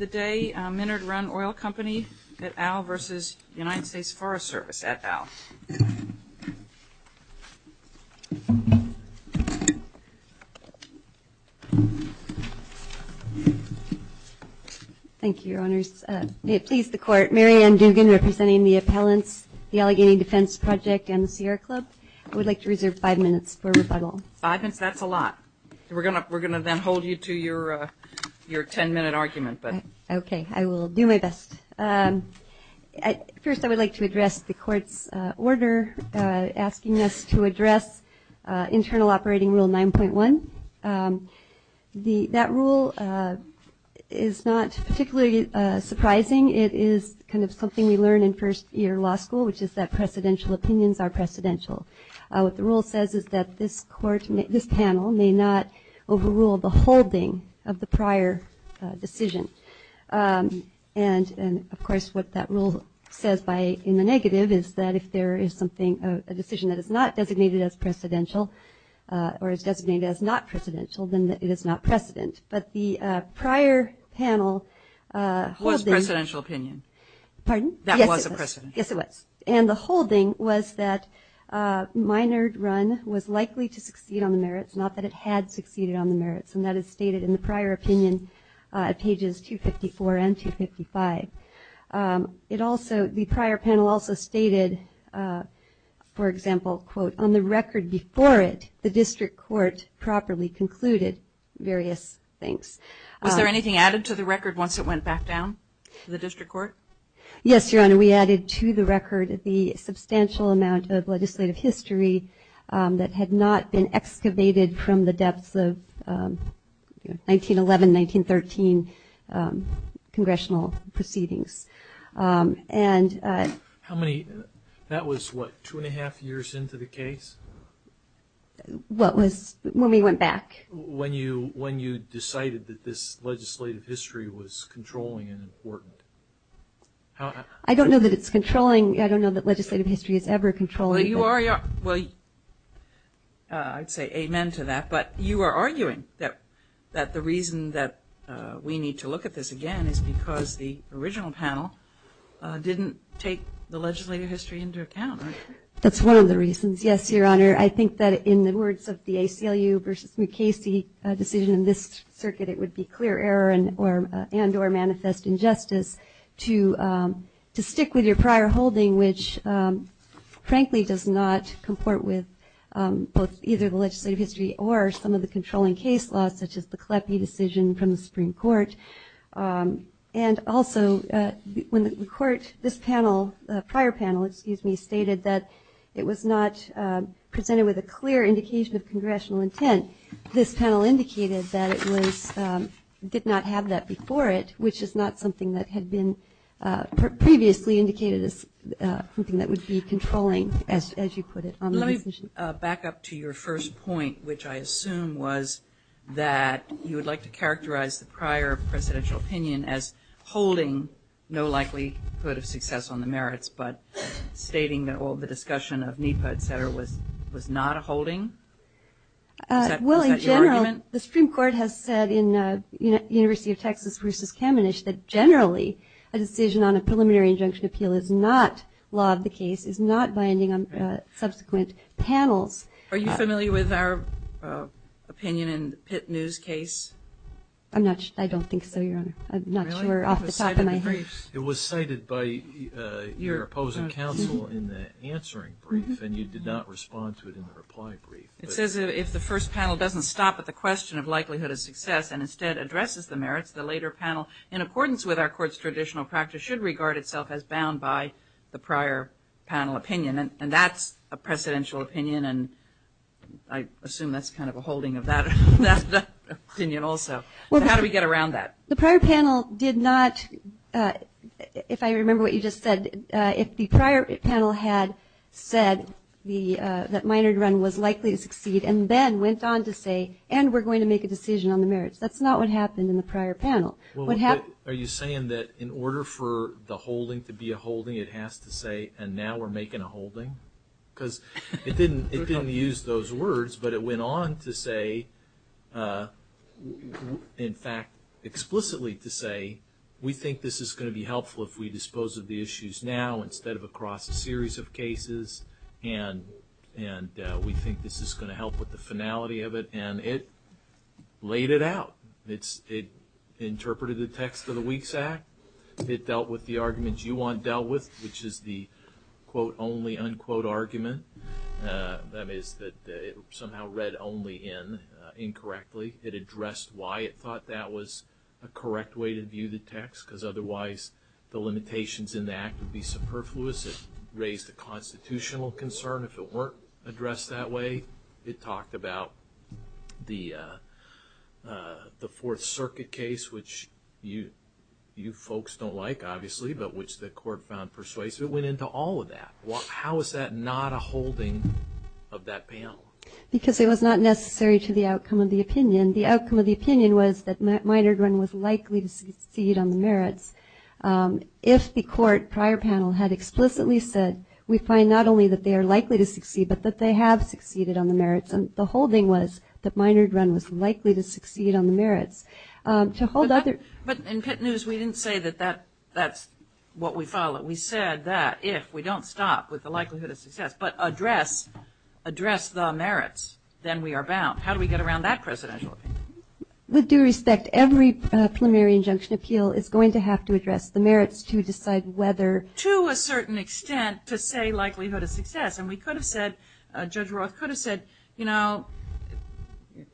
at OWL. Thank you, Your Honors. May it please the Court, Mary Ann Dugan, representing the appellants, the Allegheny Defense Project, and the Sierra Club. I would like to reserve five minutes for rebuttal. Five minutes? That's a lot. We're going to then hold you to your ten-minute argument. Okay, I will do my best. First, I would like to address the Court's order asking us to address Internal Operating Rule 9.1. That rule is not particularly surprising. It is kind of something we learn in first-year law school, which is that precedential opinions are precedential. What the rule says is that this panel may not overrule the holding of the prior decision. And, of course, what that rule says in the negative is that if there is something, a decision that is not designated as precedential or is designated as not precedential, then it is not precedent. But the prior panel holding – It was a precedential opinion. Pardon? That was a precedential opinion. Yes, it was. And the holding was that minor run was likely to succeed on the merits, not that it had succeeded on the merits. And that is stated in the prior opinion at pages 254 and 255. It also – the prior panel also stated, for example, quote, on the record before it, the district court properly concluded various things. Was there anything added to the record once it went back down to the district court? Yes, Your Honor. We added to the record the substantial amount of legislative history that had not been excavated from the depths of 1911, 1913 congressional proceedings. How many – that was, what, two and a half years into the case? What was – when we went back. When you decided that this legislative history was controlling and important. I don't know that it's controlling. I don't know that legislative history is ever controlling. Well, you are – well, I'd say amen to that. But you are arguing that the reason that we need to look at this again is because the original panel didn't take the legislative history into account, right? That's one of the reasons, yes, Your Honor. I think that in the words of the ACLU versus Mukasey decision in this circuit, it would be clear error and or manifest injustice to stick with your prior holding, which frankly does not comport with both either the legislative history or some of the controlling case laws, such as the Kleppe decision from the Supreme Court. And also, when the court – this panel, prior panel, excuse me, stated that it was not presented with a clear indication of congressional intent. This panel indicated that it was – did not have that before it, which is not something that had been previously indicated as something that would be controlling, as you put it, on the decision. Let me back up to your first point, which I assume was that you would like to characterize the prior presidential opinion as holding no likelihood of success on the merits, but stating that all the discussion of NEPA, et cetera, was not a holding? Is that your argument? Well, in general, the Supreme Court has said in University of Texas versus Kamenich that generally a decision on a preliminary injunction appeal is not law of the case, is not binding on subsequent panels. Are you familiar with our opinion in the Pitt News case? I'm not – I don't think so, Your Honor. I'm not sure off the top of my head. It was cited by your opposing counsel in the answering brief, and you did not respond to it in the reply brief. It says if the first panel doesn't stop at the question of likelihood of success and instead addresses the merits, the later panel, in accordance with our court's traditional practice, should regard itself as bound by the prior panel opinion. And that's a presidential opinion, and I assume that's kind of a holding of that opinion also. So how do we get around that? The prior panel did not, if I remember what you just said, if the prior panel had said that minored run was likely to succeed and then went on to say, and we're going to make a decision on the merits, that's not what happened in the prior panel. Are you saying that in order for the holding to be a holding, it has to say, and now we're making a holding? Because it didn't use those words, but it went on to say, in fact, explicitly to say, we think this is going to be helpful if we dispose of the issues now instead of across a series of cases, and we think this is going to help with the finality of it, and it laid it out. It interpreted the text of the Weeks Act. It dealt with the arguments you want dealt with, which is the, quote, only, unquote, argument. That is that it somehow read only in incorrectly. It addressed why it thought that was a correct way to view the text because otherwise the limitations in the act would be superfluous. It raised a constitutional concern. If it weren't addressed that way, it talked about the Fourth Circuit case, which you folks don't like, obviously, but which the court found persuasive. It went into all of that. How is that not a holding of that panel? Because it was not necessary to the outcome of the opinion. The outcome of the opinion was that Minard Run was likely to succeed on the merits. If the court prior panel had explicitly said, we find not only that they are likely to succeed, but that they have succeeded on the merits, the holding was that Minard Run was likely to succeed on the merits. But in Pitt News, we didn't say that that's what we followed. We said that if we don't stop with the likelihood of success, but address the merits, then we are bound. How do we get around that presidential opinion? With due respect, every preliminary injunction appeal is going to have to address the merits to decide whether. To a certain extent, to say likelihood of success. And we could have said, Judge Roth could have said, you know,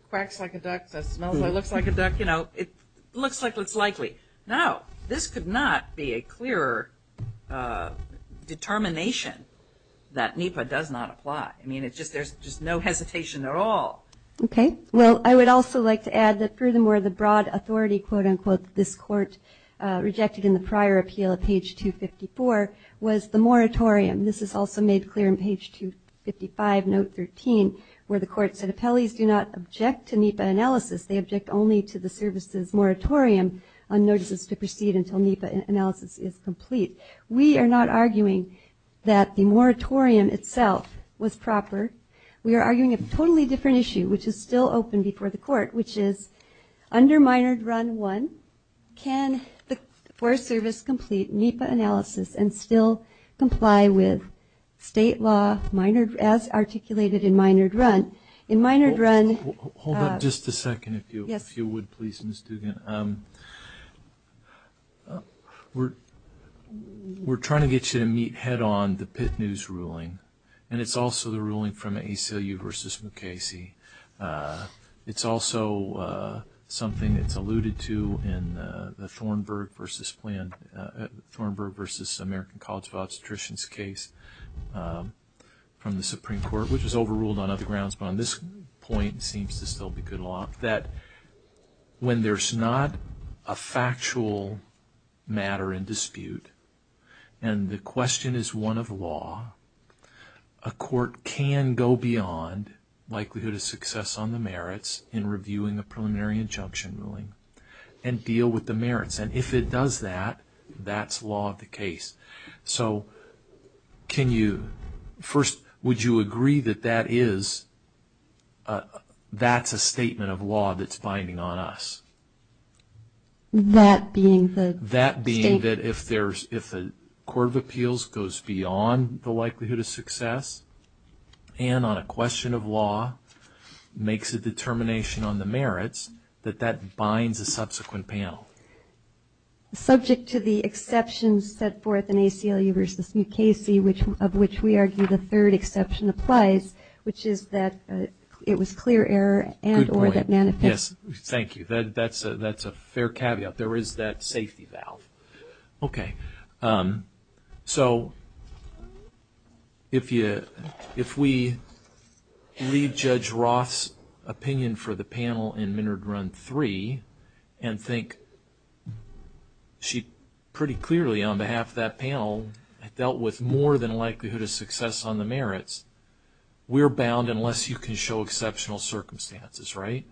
quacks like a duck, that smells like, looks like a duck. You know, it looks like it's likely. No, this could not be a clearer determination that NEPA does not apply. I mean, there's just no hesitation at all. Okay. Well, I would also like to add that furthermore, the broad authority, quote, unquote, this court rejected in the prior appeal at page 254 was the moratorium. This is also made clear in page 255, note 13, where the court said appellees do not object to NEPA analysis. They object only to the service's moratorium on notices to proceed until NEPA analysis is complete. We are not arguing that the moratorium itself was proper. We are arguing a totally different issue, which is still open before the court, which is under minor run one, can the Forest Service complete NEPA analysis and still comply with state law as articulated in minor run? Hold on just a second, if you would, please, Ms. Dugan. We're trying to get you to meet head-on the Pitt News ruling, and it's also the ruling from ACLU versus Mukasey. It's also something that's alluded to in the Thornburg versus American College of Obstetricians case from the Supreme Court, which was overruled on other grounds, but on this point seems to still be good law, that when there's not a factual matter in dispute and the question is one of law, a court can go beyond likelihood of success on the merits in reviewing a preliminary injunction ruling and deal with the merits, and if it does that, that's law of the case. So can you, first, would you agree that that is, that's a statement of law that's binding on us? That being the state? That being that if the Court of Appeals goes beyond the likelihood of success and on a question of law makes a determination on the merits, that that binds a subsequent panel. Subject to the exceptions set forth in ACLU versus Mukasey, of which we argue the third exception applies, which is that it was clear error and or that manifest. Yes, thank you. That's a fair caveat. There is that safety valve. Okay. So if we read Judge Roth's opinion for the panel in Minard Run 3 and think she pretty clearly on behalf of that panel dealt with more than likelihood of success on the merits, we're bound unless you can show exceptional circumstances, right?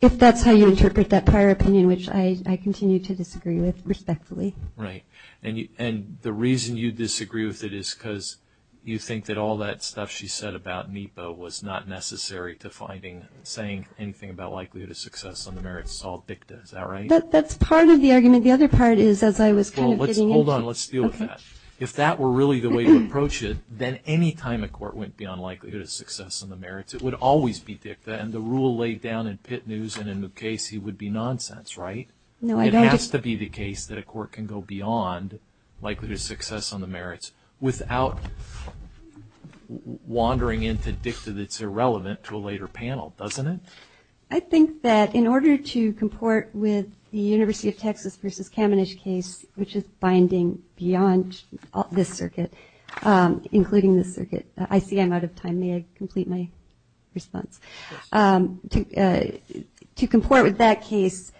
If that's how you interpret that prior opinion, which I continue to disagree with respectfully. Right. And the reason you disagree with it is because you think that all that stuff she said about NEPA was not necessary to finding, saying anything about likelihood of success on the merits. It's all dicta. Is that right? That's part of the argument. The other part is as I was kind of getting into it. Hold on. Let's deal with that. If that were really the way to approach it, then any time a court went beyond likelihood of success on the merits, it would always be dicta. And the rule laid down in Pitt News and in Mukasey would be nonsense, right? No, I don't. It has to be the case that a court can go beyond likelihood of success on the merits without wandering into dicta that's irrelevant to a later panel, doesn't it? I think that in order to comport with the University of Texas versus Kamenish case, which is binding beyond this circuit, including this circuit, I see I'm out of time. May I complete my response? To comport with that case,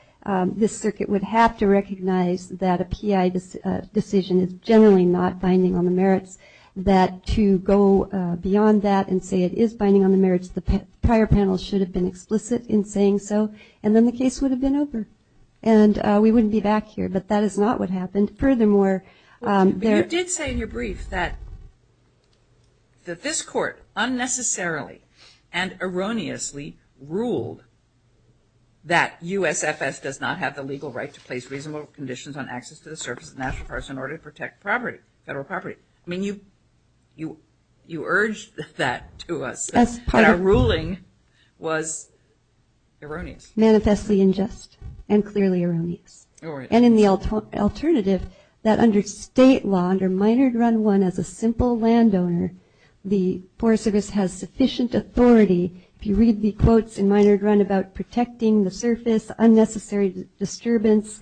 this circuit would have to recognize that a PI decision is generally not binding on the merits, that to go beyond that and say it is binding on the merits, the prior panel should have been explicit in saying so, and then the case would have been over. And we wouldn't be back here, but that is not what happened. Furthermore, there are – But you did say in your brief that this court unnecessarily and erroneously ruled that USFS does not have the legal right to place reasonable conditions on access to the surface of national parks in order to protect property, federal property. I mean, you urged that to us, that our ruling was erroneous. Manifestly unjust and clearly erroneous. And in the alternative, that under state law, under Minard Run 1 as a simple landowner, the Forest Service has sufficient authority. If you read the quotes in Minard Run about protecting the surface, unnecessary disturbance,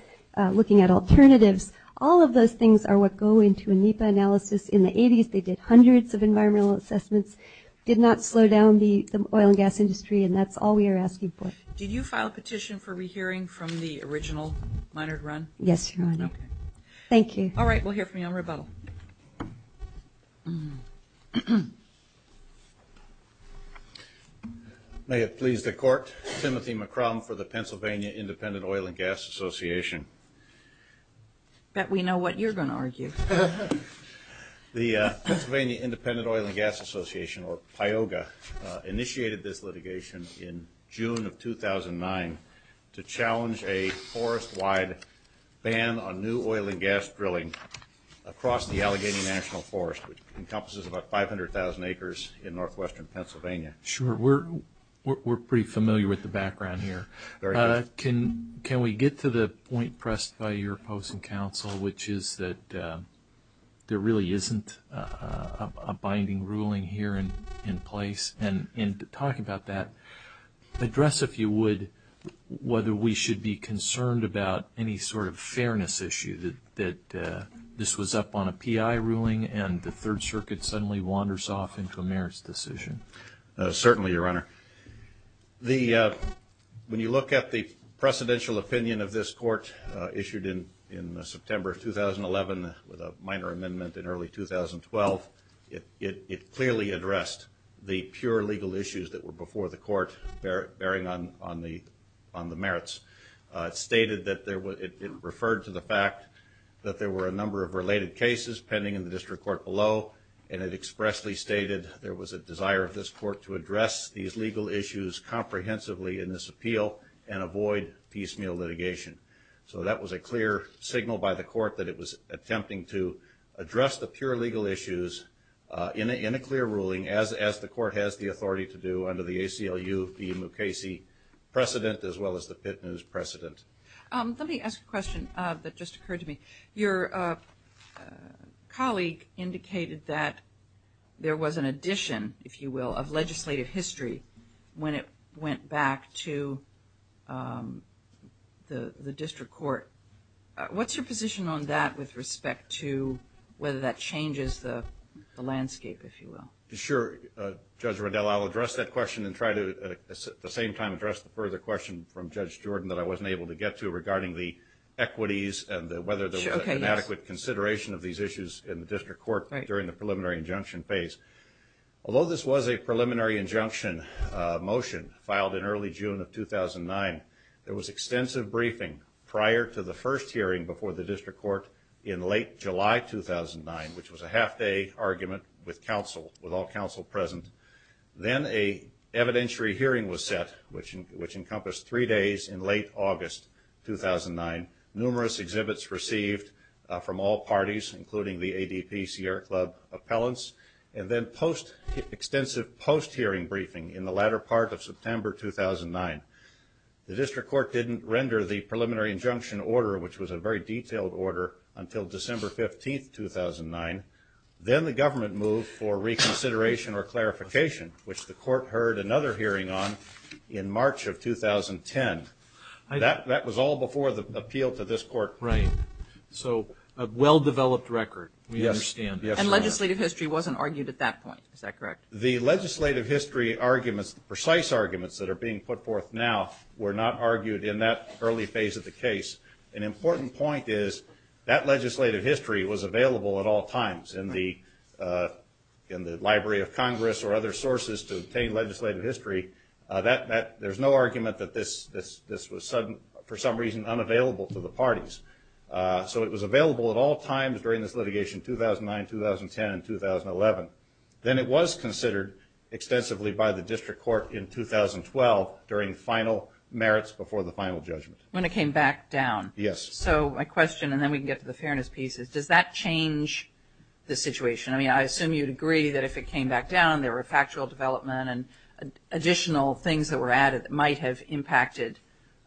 looking at alternatives, all of those things are what go into a NEPA analysis. In the 80s, they did hundreds of environmental assessments, did not slow down the oil and gas industry, and that's all we are asking for. Did you file a petition for rehearing from the original Minard Run? Yes, Your Honor. Okay. Thank you. All right, we'll hear from you on rebuttal. May it please the Court, Timothy McCrum for the Pennsylvania Independent Oil and Gas Association. Bet we know what you're going to argue. The Pennsylvania Independent Oil and Gas Association, or PIOGA, initiated this litigation in June of 2009 to challenge a forest-wide ban on new oil and gas drilling across the Allegheny National Forest, which encompasses about 500,000 acres in northwestern Pennsylvania. Sure. We're pretty familiar with the background here. Can we get to the point pressed by your opposing counsel, which is that there really isn't a binding ruling here in place? And in talking about that, address if you would whether we should be concerned about any sort of fairness issue that this was up on a PI ruling and the Third Circuit suddenly wanders off into a merits decision. Certainly, Your Honor. When you look at the precedential opinion of this court issued in September of 2011 with a minor amendment in early 2012, it clearly addressed the pure legal issues that were before the court bearing on the merits. It stated that it referred to the fact that there were a number of related cases pending in the district court below, and it expressly stated there was a desire of this court to address these legal issues comprehensively in this appeal and avoid piecemeal litigation. So that was a clear signal by the court that it was attempting to address the pure legal issues in a clear ruling, as the court has the authority to do under the ACLU, the Mukasey precedent, as well as the Pitt News precedent. Let me ask a question that just occurred to me. Your colleague indicated that there was an addition, if you will, of legislative history when it went back to the district court. What's your position on that with respect to whether that changes the landscape, if you will? Sure, Judge Riddell. I'll address that question and try to at the same time address the further question from Judge Jordan that I wasn't able to get to regarding the equities and whether there was an adequate consideration of these issues in the district court during the preliminary injunction phase. Although this was a preliminary injunction motion filed in early June of 2009, there was extensive briefing prior to the first hearing before the district court in late July 2009, which was a half-day argument with all counsel present. Then an evidentiary hearing was set, which encompassed three days in late August 2009, numerous exhibits received from all parties, including the ADPCR Club appellants, and then extensive post-hearing briefing in the latter part of September 2009. The district court didn't render the preliminary injunction order, which was a very detailed order, until December 15, 2009. Then the government moved for reconsideration or clarification, which the court heard another hearing on in March of 2010. That was all before the appeal to this court. Right. So a well-developed record, we understand. And legislative history wasn't argued at that point, is that correct? The legislative history arguments, the precise arguments that are being put forth now were not argued in that early phase of the case. An important point is that legislative history was available at all times in the Library of Congress or other sources to obtain legislative history. There's no argument that this was for some reason unavailable to the parties. So it was available at all times during this litigation, 2009, 2010, and 2011. Then it was considered extensively by the district court in 2012 during final merits before the final judgment. When it came back down. Yes. So my question, and then we can get to the fairness piece, is does that change the situation? I mean, I assume you'd agree that if it came back down, there were factual development and additional things that were added that might have impacted,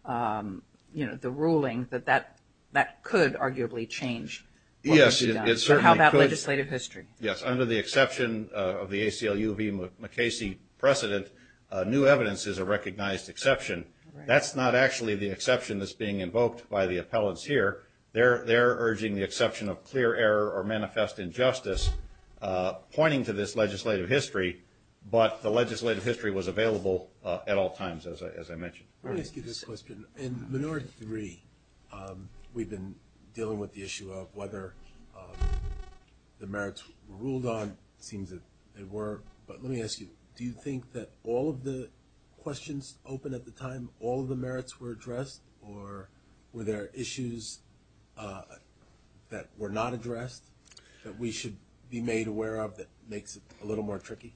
you know, the ruling, that that could arguably change. Yes, it certainly could. How about legislative history? Yes. Under the exception of the ACLU v. McCasey precedent, new evidence is a recognized exception. That's not actually the exception that's being invoked by the appellants here. They're urging the exception of clear error or manifest injustice, pointing to this legislative history. But the legislative history was available at all times, as I mentioned. Let me ask you this question. In Minority 3, we've been dealing with the issue of whether the merits were ruled on. It seems that they were. But let me ask you, do you think that all of the questions open at the time, all of the merits were addressed, or were there issues that were not addressed that we should be made aware of that makes it a little more tricky?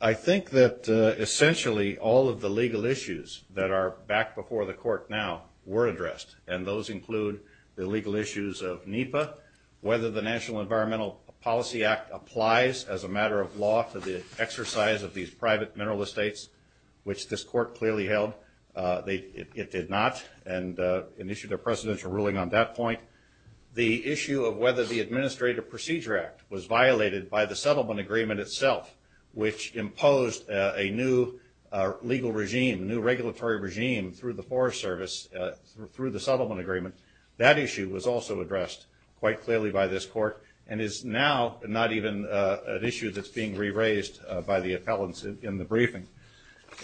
I think that, essentially, all of the legal issues that are back before the court now were addressed, and those include the legal issues of NEPA, whether the National Environmental Policy Act applies as a matter of law to the exercise of these private mineral estates, which this court clearly held it did not, and issued a presidential ruling on that point. The issue of whether the Administrative Procedure Act was violated by the settlement agreement itself, which imposed a new legal regime, a new regulatory regime through the Forest Service through the settlement agreement. That issue was also addressed quite clearly by this court and is now not even an issue that's being re-raised by the appellants in the briefing.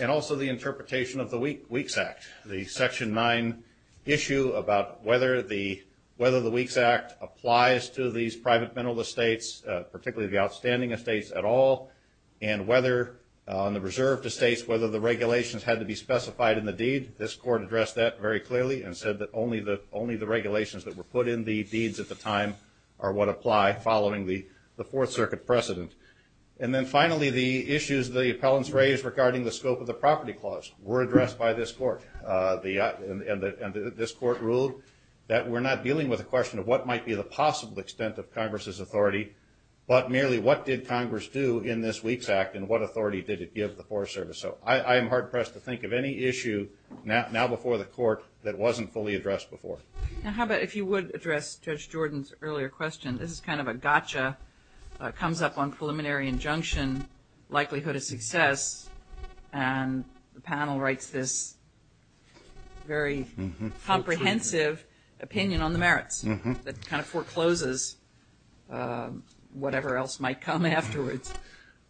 And also the interpretation of the WEEKS Act, the Section 9 issue about whether the WEEKS Act applies to these private mineral estates, particularly the outstanding estates at all, and whether on the reserved estates, whether the regulations had to be specified in the deed. This court addressed that very clearly and said that only the regulations that were put in the deeds at the time are what apply following the Fourth Circuit precedent. And then finally, the issues the appellants raised regarding the scope of the property clause were and this court ruled that we're not dealing with the question of what might be the possible extent of Congress's authority, but merely what did Congress do in this WEEKS Act and what authority did it give the Forest Service. So I am hard-pressed to think of any issue now before the court that wasn't fully addressed before. Now how about if you would address Judge Jordan's earlier question. This is kind of a gotcha, comes up on preliminary injunction, likelihood of success, and the panel writes this very comprehensive opinion on the merits that kind of forecloses whatever else might come afterwards.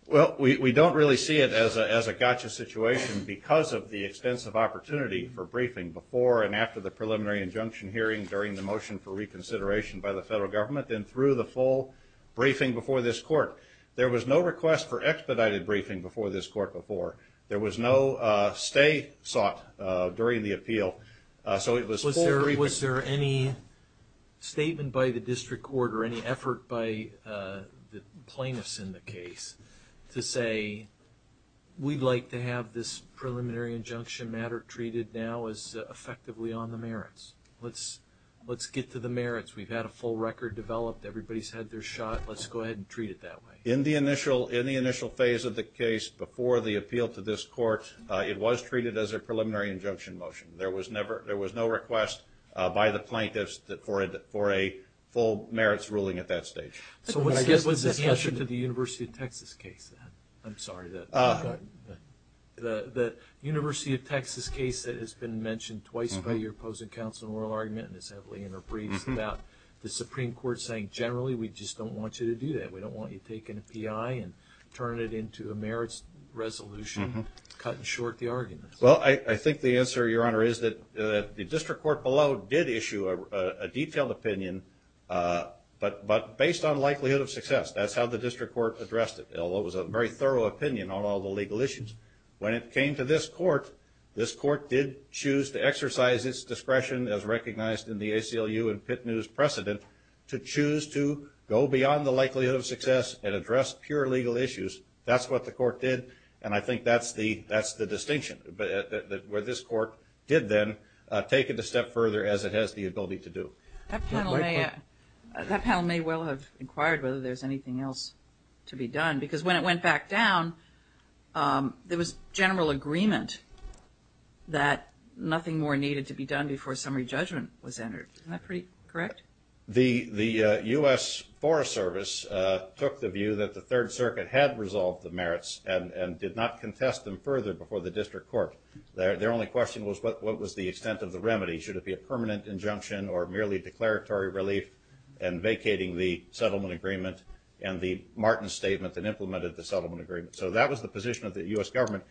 Well, we don't really see it as a gotcha situation because of the extensive opportunity for briefing before and after the preliminary injunction hearing during the motion for reconsideration by the federal government and through the full briefing before this court. There was no request for expedited briefing before this court before. There was no stay sought during the appeal. Was there any statement by the district court or any effort by the plaintiffs in the case to say we'd like to have this preliminary injunction matter treated now as effectively on the merits? Let's get to the merits. We've had a full record developed. Everybody's had their shot. Let's go ahead and treat it that way. In the initial phase of the case before the appeal to this court, it was treated as a preliminary injunction motion. There was no request by the plaintiffs for a full merits ruling at that stage. So what's the answer to the University of Texas case? I'm sorry. The University of Texas case that has been mentioned twice by your opposing counsel in oral argument and is heavily interpreted about the Supreme Court saying generally we just don't want you to do that. We don't want you taking a PI and turning it into a merits resolution, cutting short the argument. Well, I think the answer, Your Honor, is that the district court below did issue a detailed opinion, but based on likelihood of success. That's how the district court addressed it, although it was a very thorough opinion on all the legal issues. When it came to this court, this court did choose to exercise its discretion, as recognized in the ACLU and Pitt News precedent, to choose to go beyond the likelihood of success and address pure legal issues. That's what the court did, and I think that's the distinction, where this court did then take it a step further as it has the ability to do. That panel may well have inquired whether there's anything else to be done, because when it went back down, there was general agreement that nothing more needed to be done before summary judgment was entered. Isn't that pretty correct? The U.S. Forest Service took the view that the Third Circuit had resolved the merits and did not contest them further before the district court. Their only question was what was the extent of the remedy. Should it be a permanent injunction or merely declaratory relief and vacating the settlement agreement and the Martin Statement that implemented the settlement agreement. So that was the position of the U.S. government.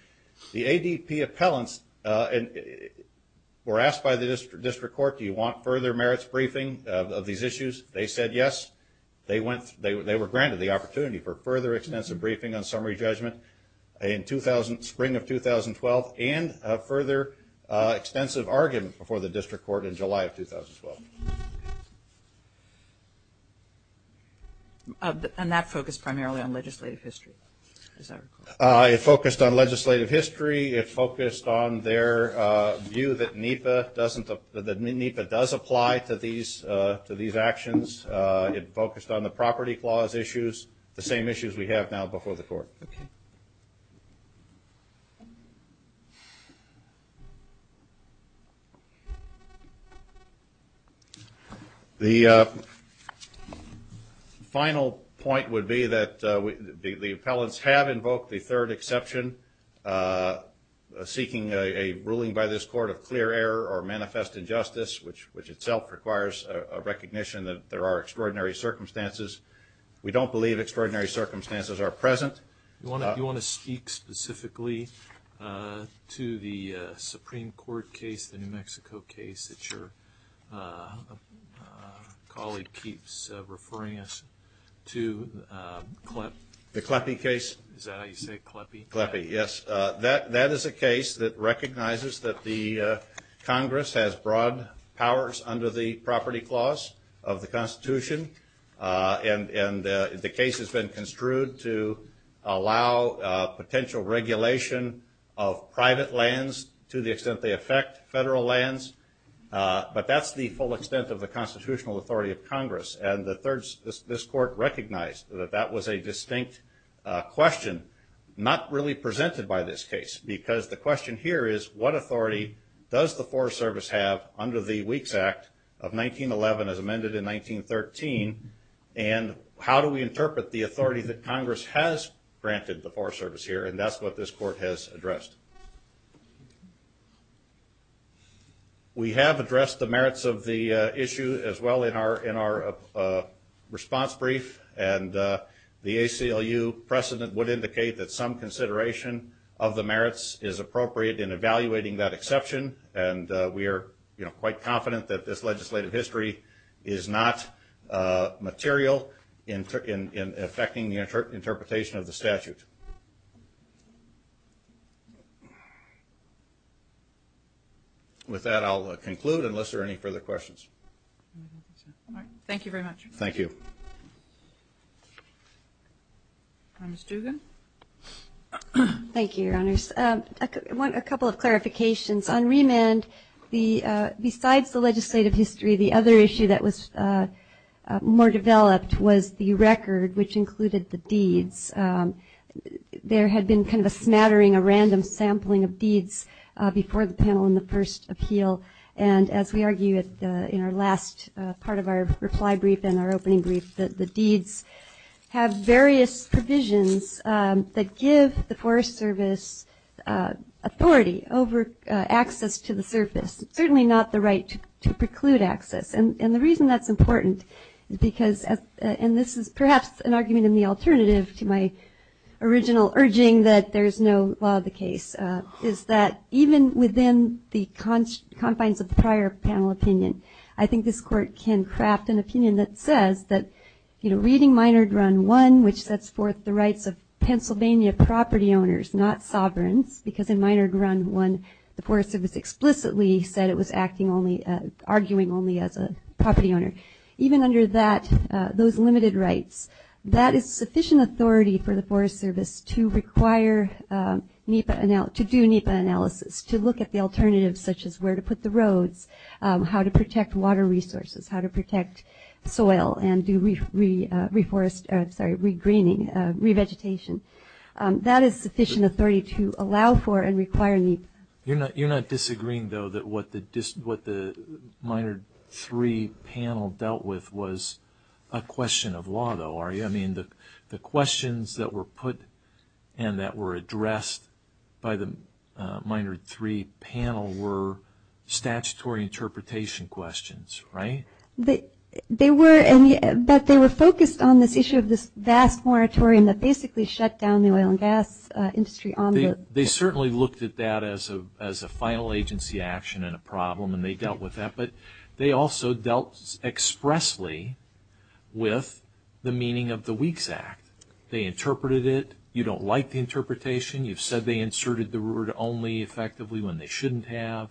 The ADP appellants were asked by the district court, do you want further merits briefing of these issues? They said yes. They were granted the opportunity for further extensive briefing on summary judgment in spring of 2012 and further extensive argument before the district court in July of 2012. And that focused primarily on legislative history, is that correct? It focused on legislative history. It focused on their view that NEPA does apply to these actions. It focused on the property clause issues, the same issues we have now before the court. Okay. The final point would be that the appellants have invoked the third exception, seeking a ruling by this court of clear error or manifest injustice, which itself requires a recognition that there are extraordinary circumstances. We don't believe extraordinary circumstances are present. You want to speak specifically to the Supreme Court case, the New Mexico case, that your colleague keeps referring us to, CLEP? The CLEPE case. Is that how you say it, CLEPE? CLEPE, yes. That is a case that recognizes that the Congress has broad powers under the property clause of the Constitution, and the case has been construed to allow potential regulation of private lands to the extent they affect federal lands. But that's the full extent of the constitutional authority of Congress, and this court recognized that that was a distinct question, not really presented by this case, because the question here is, what authority does the Forest Service have under the Weeks Act of 1911 as amended in 1913, and how do we interpret the authority that Congress has granted the Forest Service here, and that's what this court has addressed. We have addressed the merits of the issue as well in our response brief, and the ACLU precedent would indicate that some consideration of the merits is appropriate in evaluating that exception, and we are quite confident that this legislative history is not material in affecting the interpretation of the statute. With that, I'll conclude unless there are any further questions. All right. Thank you very much. Thank you. Ms. Dugan? Thank you, Your Honors. A couple of clarifications. On remand, besides the legislative history, the other issue that was more developed was the record, which included the deeds. There had been kind of a smattering, a random sampling of deeds before the panel in the first appeal, and as we argue in our last part of our reply brief and our opening brief, the deeds have various provisions that give the Forest Service authority over access to the surface, certainly not the right to preclude access. And the reason that's important is because, and this is perhaps an argument in the alternative to my original urging that there is no law of the case, is that even within the confines of the prior panel opinion, I think this court can craft an opinion that says that reading Minard Run 1, which sets forth the rights of Pennsylvania property owners, not sovereigns, because in Minard Run 1, the Forest Service explicitly said it was arguing only as a property owner, even under those limited rights, that is sufficient authority for the Forest Service to do NEPA analysis, how to protect water resources, how to protect soil, and do reforest, sorry, regreening, revegetation. That is sufficient authority to allow for and require NEPA. You're not disagreeing, though, that what the Minard 3 panel dealt with was a question of law, though, are you? I mean, the questions that were put and that were addressed by the Minard 3 panel were statutory interpretation questions, right? They were, but they were focused on this issue of this vast moratorium that basically shut down the oil and gas industry. They certainly looked at that as a final agency action and a problem, and they dealt with that, but they also dealt expressly with the meaning of the WEEKS Act. They interpreted it. You don't like the interpretation. You've said they inserted the word only effectively when they shouldn't have.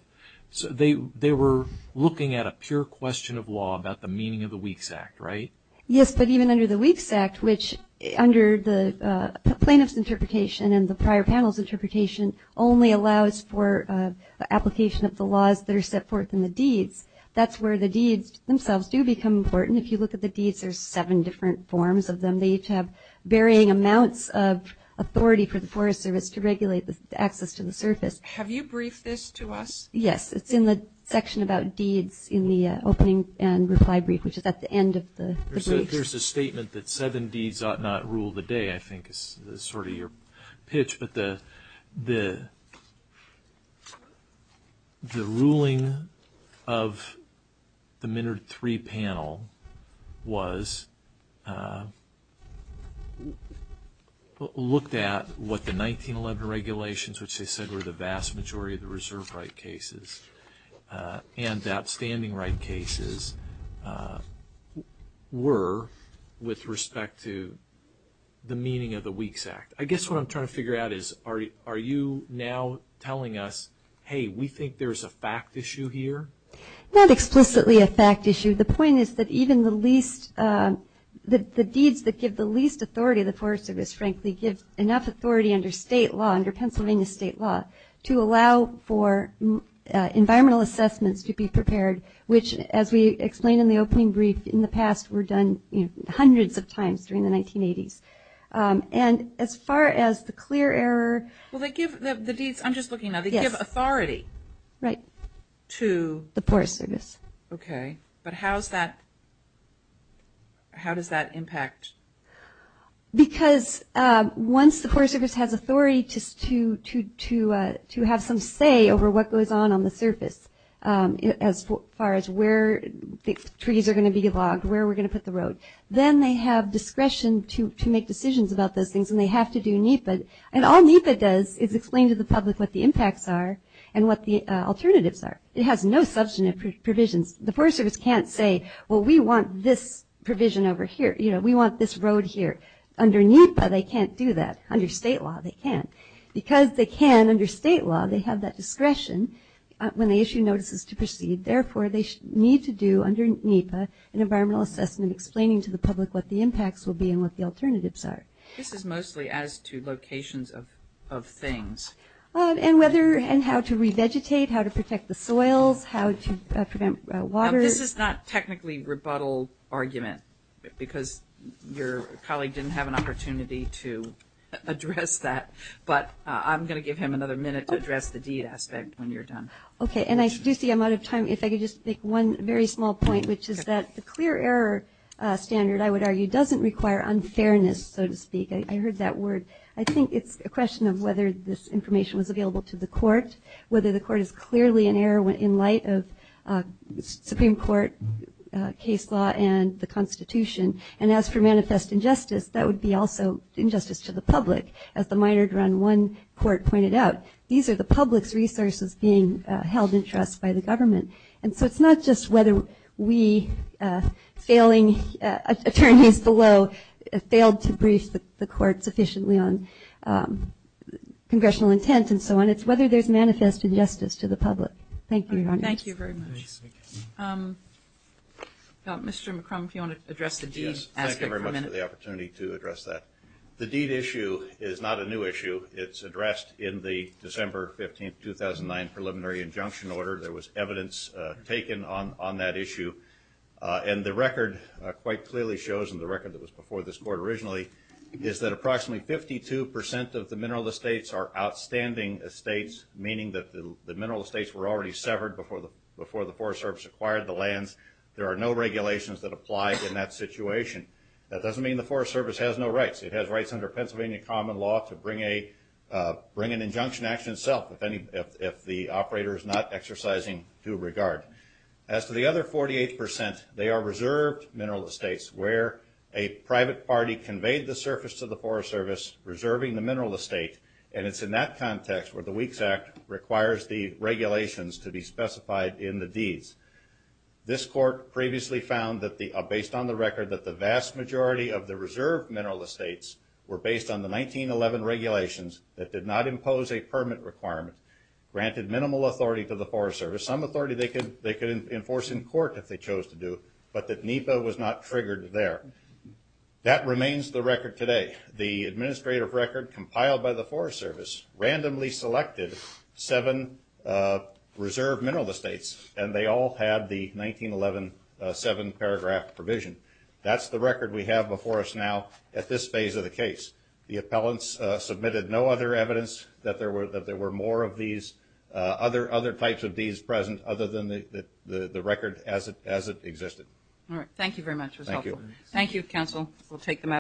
They were looking at a pure question of law about the meaning of the WEEKS Act, right? Yes, but even under the WEEKS Act, which under the plaintiff's interpretation and the prior panel's interpretation only allows for application of the laws that are set forth in the deeds, that's where the deeds themselves do become important. If you look at the deeds, there's seven different forms of them. They each have varying amounts of authority for the Forest Service to regulate the access to the surface. Have you briefed this to us? Yes, it's in the section about deeds in the opening and reply brief, which is at the end of the brief. There's a statement that seven deeds ought not rule the day, I think, is sort of your pitch, but the ruling of the Minard III panel was looked at what the 1911 regulations, which they said were the vast majority of the reserve right cases and outstanding right cases were with respect to the meaning of the WEEKS Act. I guess what I'm trying to figure out is are you now telling us, hey, we think there's a fact issue here? Not explicitly a fact issue. The point is that even the least, the deeds that give the least authority to the Forest Service, frankly, give enough authority under state law, under Pennsylvania state law, to allow for environmental assessments to be prepared, which as we explained in the opening brief, in the past were done hundreds of times during the 1980s. And as far as the clear error. Well, they give the deeds, I'm just looking now, they give authority. Right. To? The Forest Service. Okay. But how does that impact? Because once the Forest Service has authority to have some say over what goes on on the surface, as far as where the trees are going to be logged, where we're going to put the road, then they have discretion to make decisions about those things. And they have to do NEPA. And all NEPA does is explain to the public what the impacts are and what the alternatives are. It has no substantive provisions. The Forest Service can't say, well, we want this provision over here. You know, we want this road here. Under NEPA, they can't do that. Under state law, they can't. Because they can under state law, they have that discretion when they issue notices to proceed. Therefore, they need to do under NEPA an environmental assessment explaining to the public what the impacts will be and what the alternatives are. This is mostly as to locations of things. And whether and how to revegetate, how to protect the soils, how to prevent water. This is not technically rebuttal argument because your colleague didn't have an opportunity to address that. But I'm going to give him another minute to address the deed aspect when you're done. Okay. And I do see I'm out of time. If I could just make one very small point, which is that the clear error standard, I would argue, doesn't require unfairness, so to speak. I heard that word. I think it's a question of whether this information was available to the court, whether the court is clearly in error in light of Supreme Court case law and the Constitution. And as for manifest injustice, that would be also injustice to the public. As the minored around one court pointed out, these are the public's resources being held in trust by the government. And so it's not just whether we failing attorneys below failed to brief the court sufficiently on congressional intent and so on, it's whether there's manifest injustice to the public. Thank you, Your Honor. Thank you very much. Mr. McCrum, if you want to address the deed aspect for a minute. Yes, thank you very much for the opportunity to address that. The deed issue is not a new issue. It's addressed in the December 15, 2009 preliminary injunction order. There was evidence taken on that issue. And the record quite clearly shows, and the record that was before this court originally, is that approximately 52% of the mineral estates are outstanding estates, meaning that the mineral estates were already severed before the Forest Service acquired the lands. There are no regulations that apply in that situation. That doesn't mean the Forest Service has no rights. It has rights under Pennsylvania common law to bring an injunction action itself if the operator is not exercising due regard. As to the other 48%, they are reserved mineral estates where a private party conveyed the surface to the Forest Service, reserving the mineral estate. And it's in that context where the Weeks Act requires the regulations to be specified in the deeds. This court previously found based on the record that the vast majority of the reserved mineral estates were based on the 1911 regulations that did not impose a permit requirement, granted minimal authority to the Forest Service, some authority they could enforce in court if they chose to do, but that NEPA was not triggered there. That remains the record today. The administrative record compiled by the Forest Service randomly selected seven reserved mineral estates, and they all had the 1911 seven-paragraph provision. That's the record we have before us now at this phase of the case. The appellants submitted no other evidence that there were more of these other types of deeds present other than the record as it existed. All right, thank you very much. It was helpful. Thank you, counsel. We'll take the matter.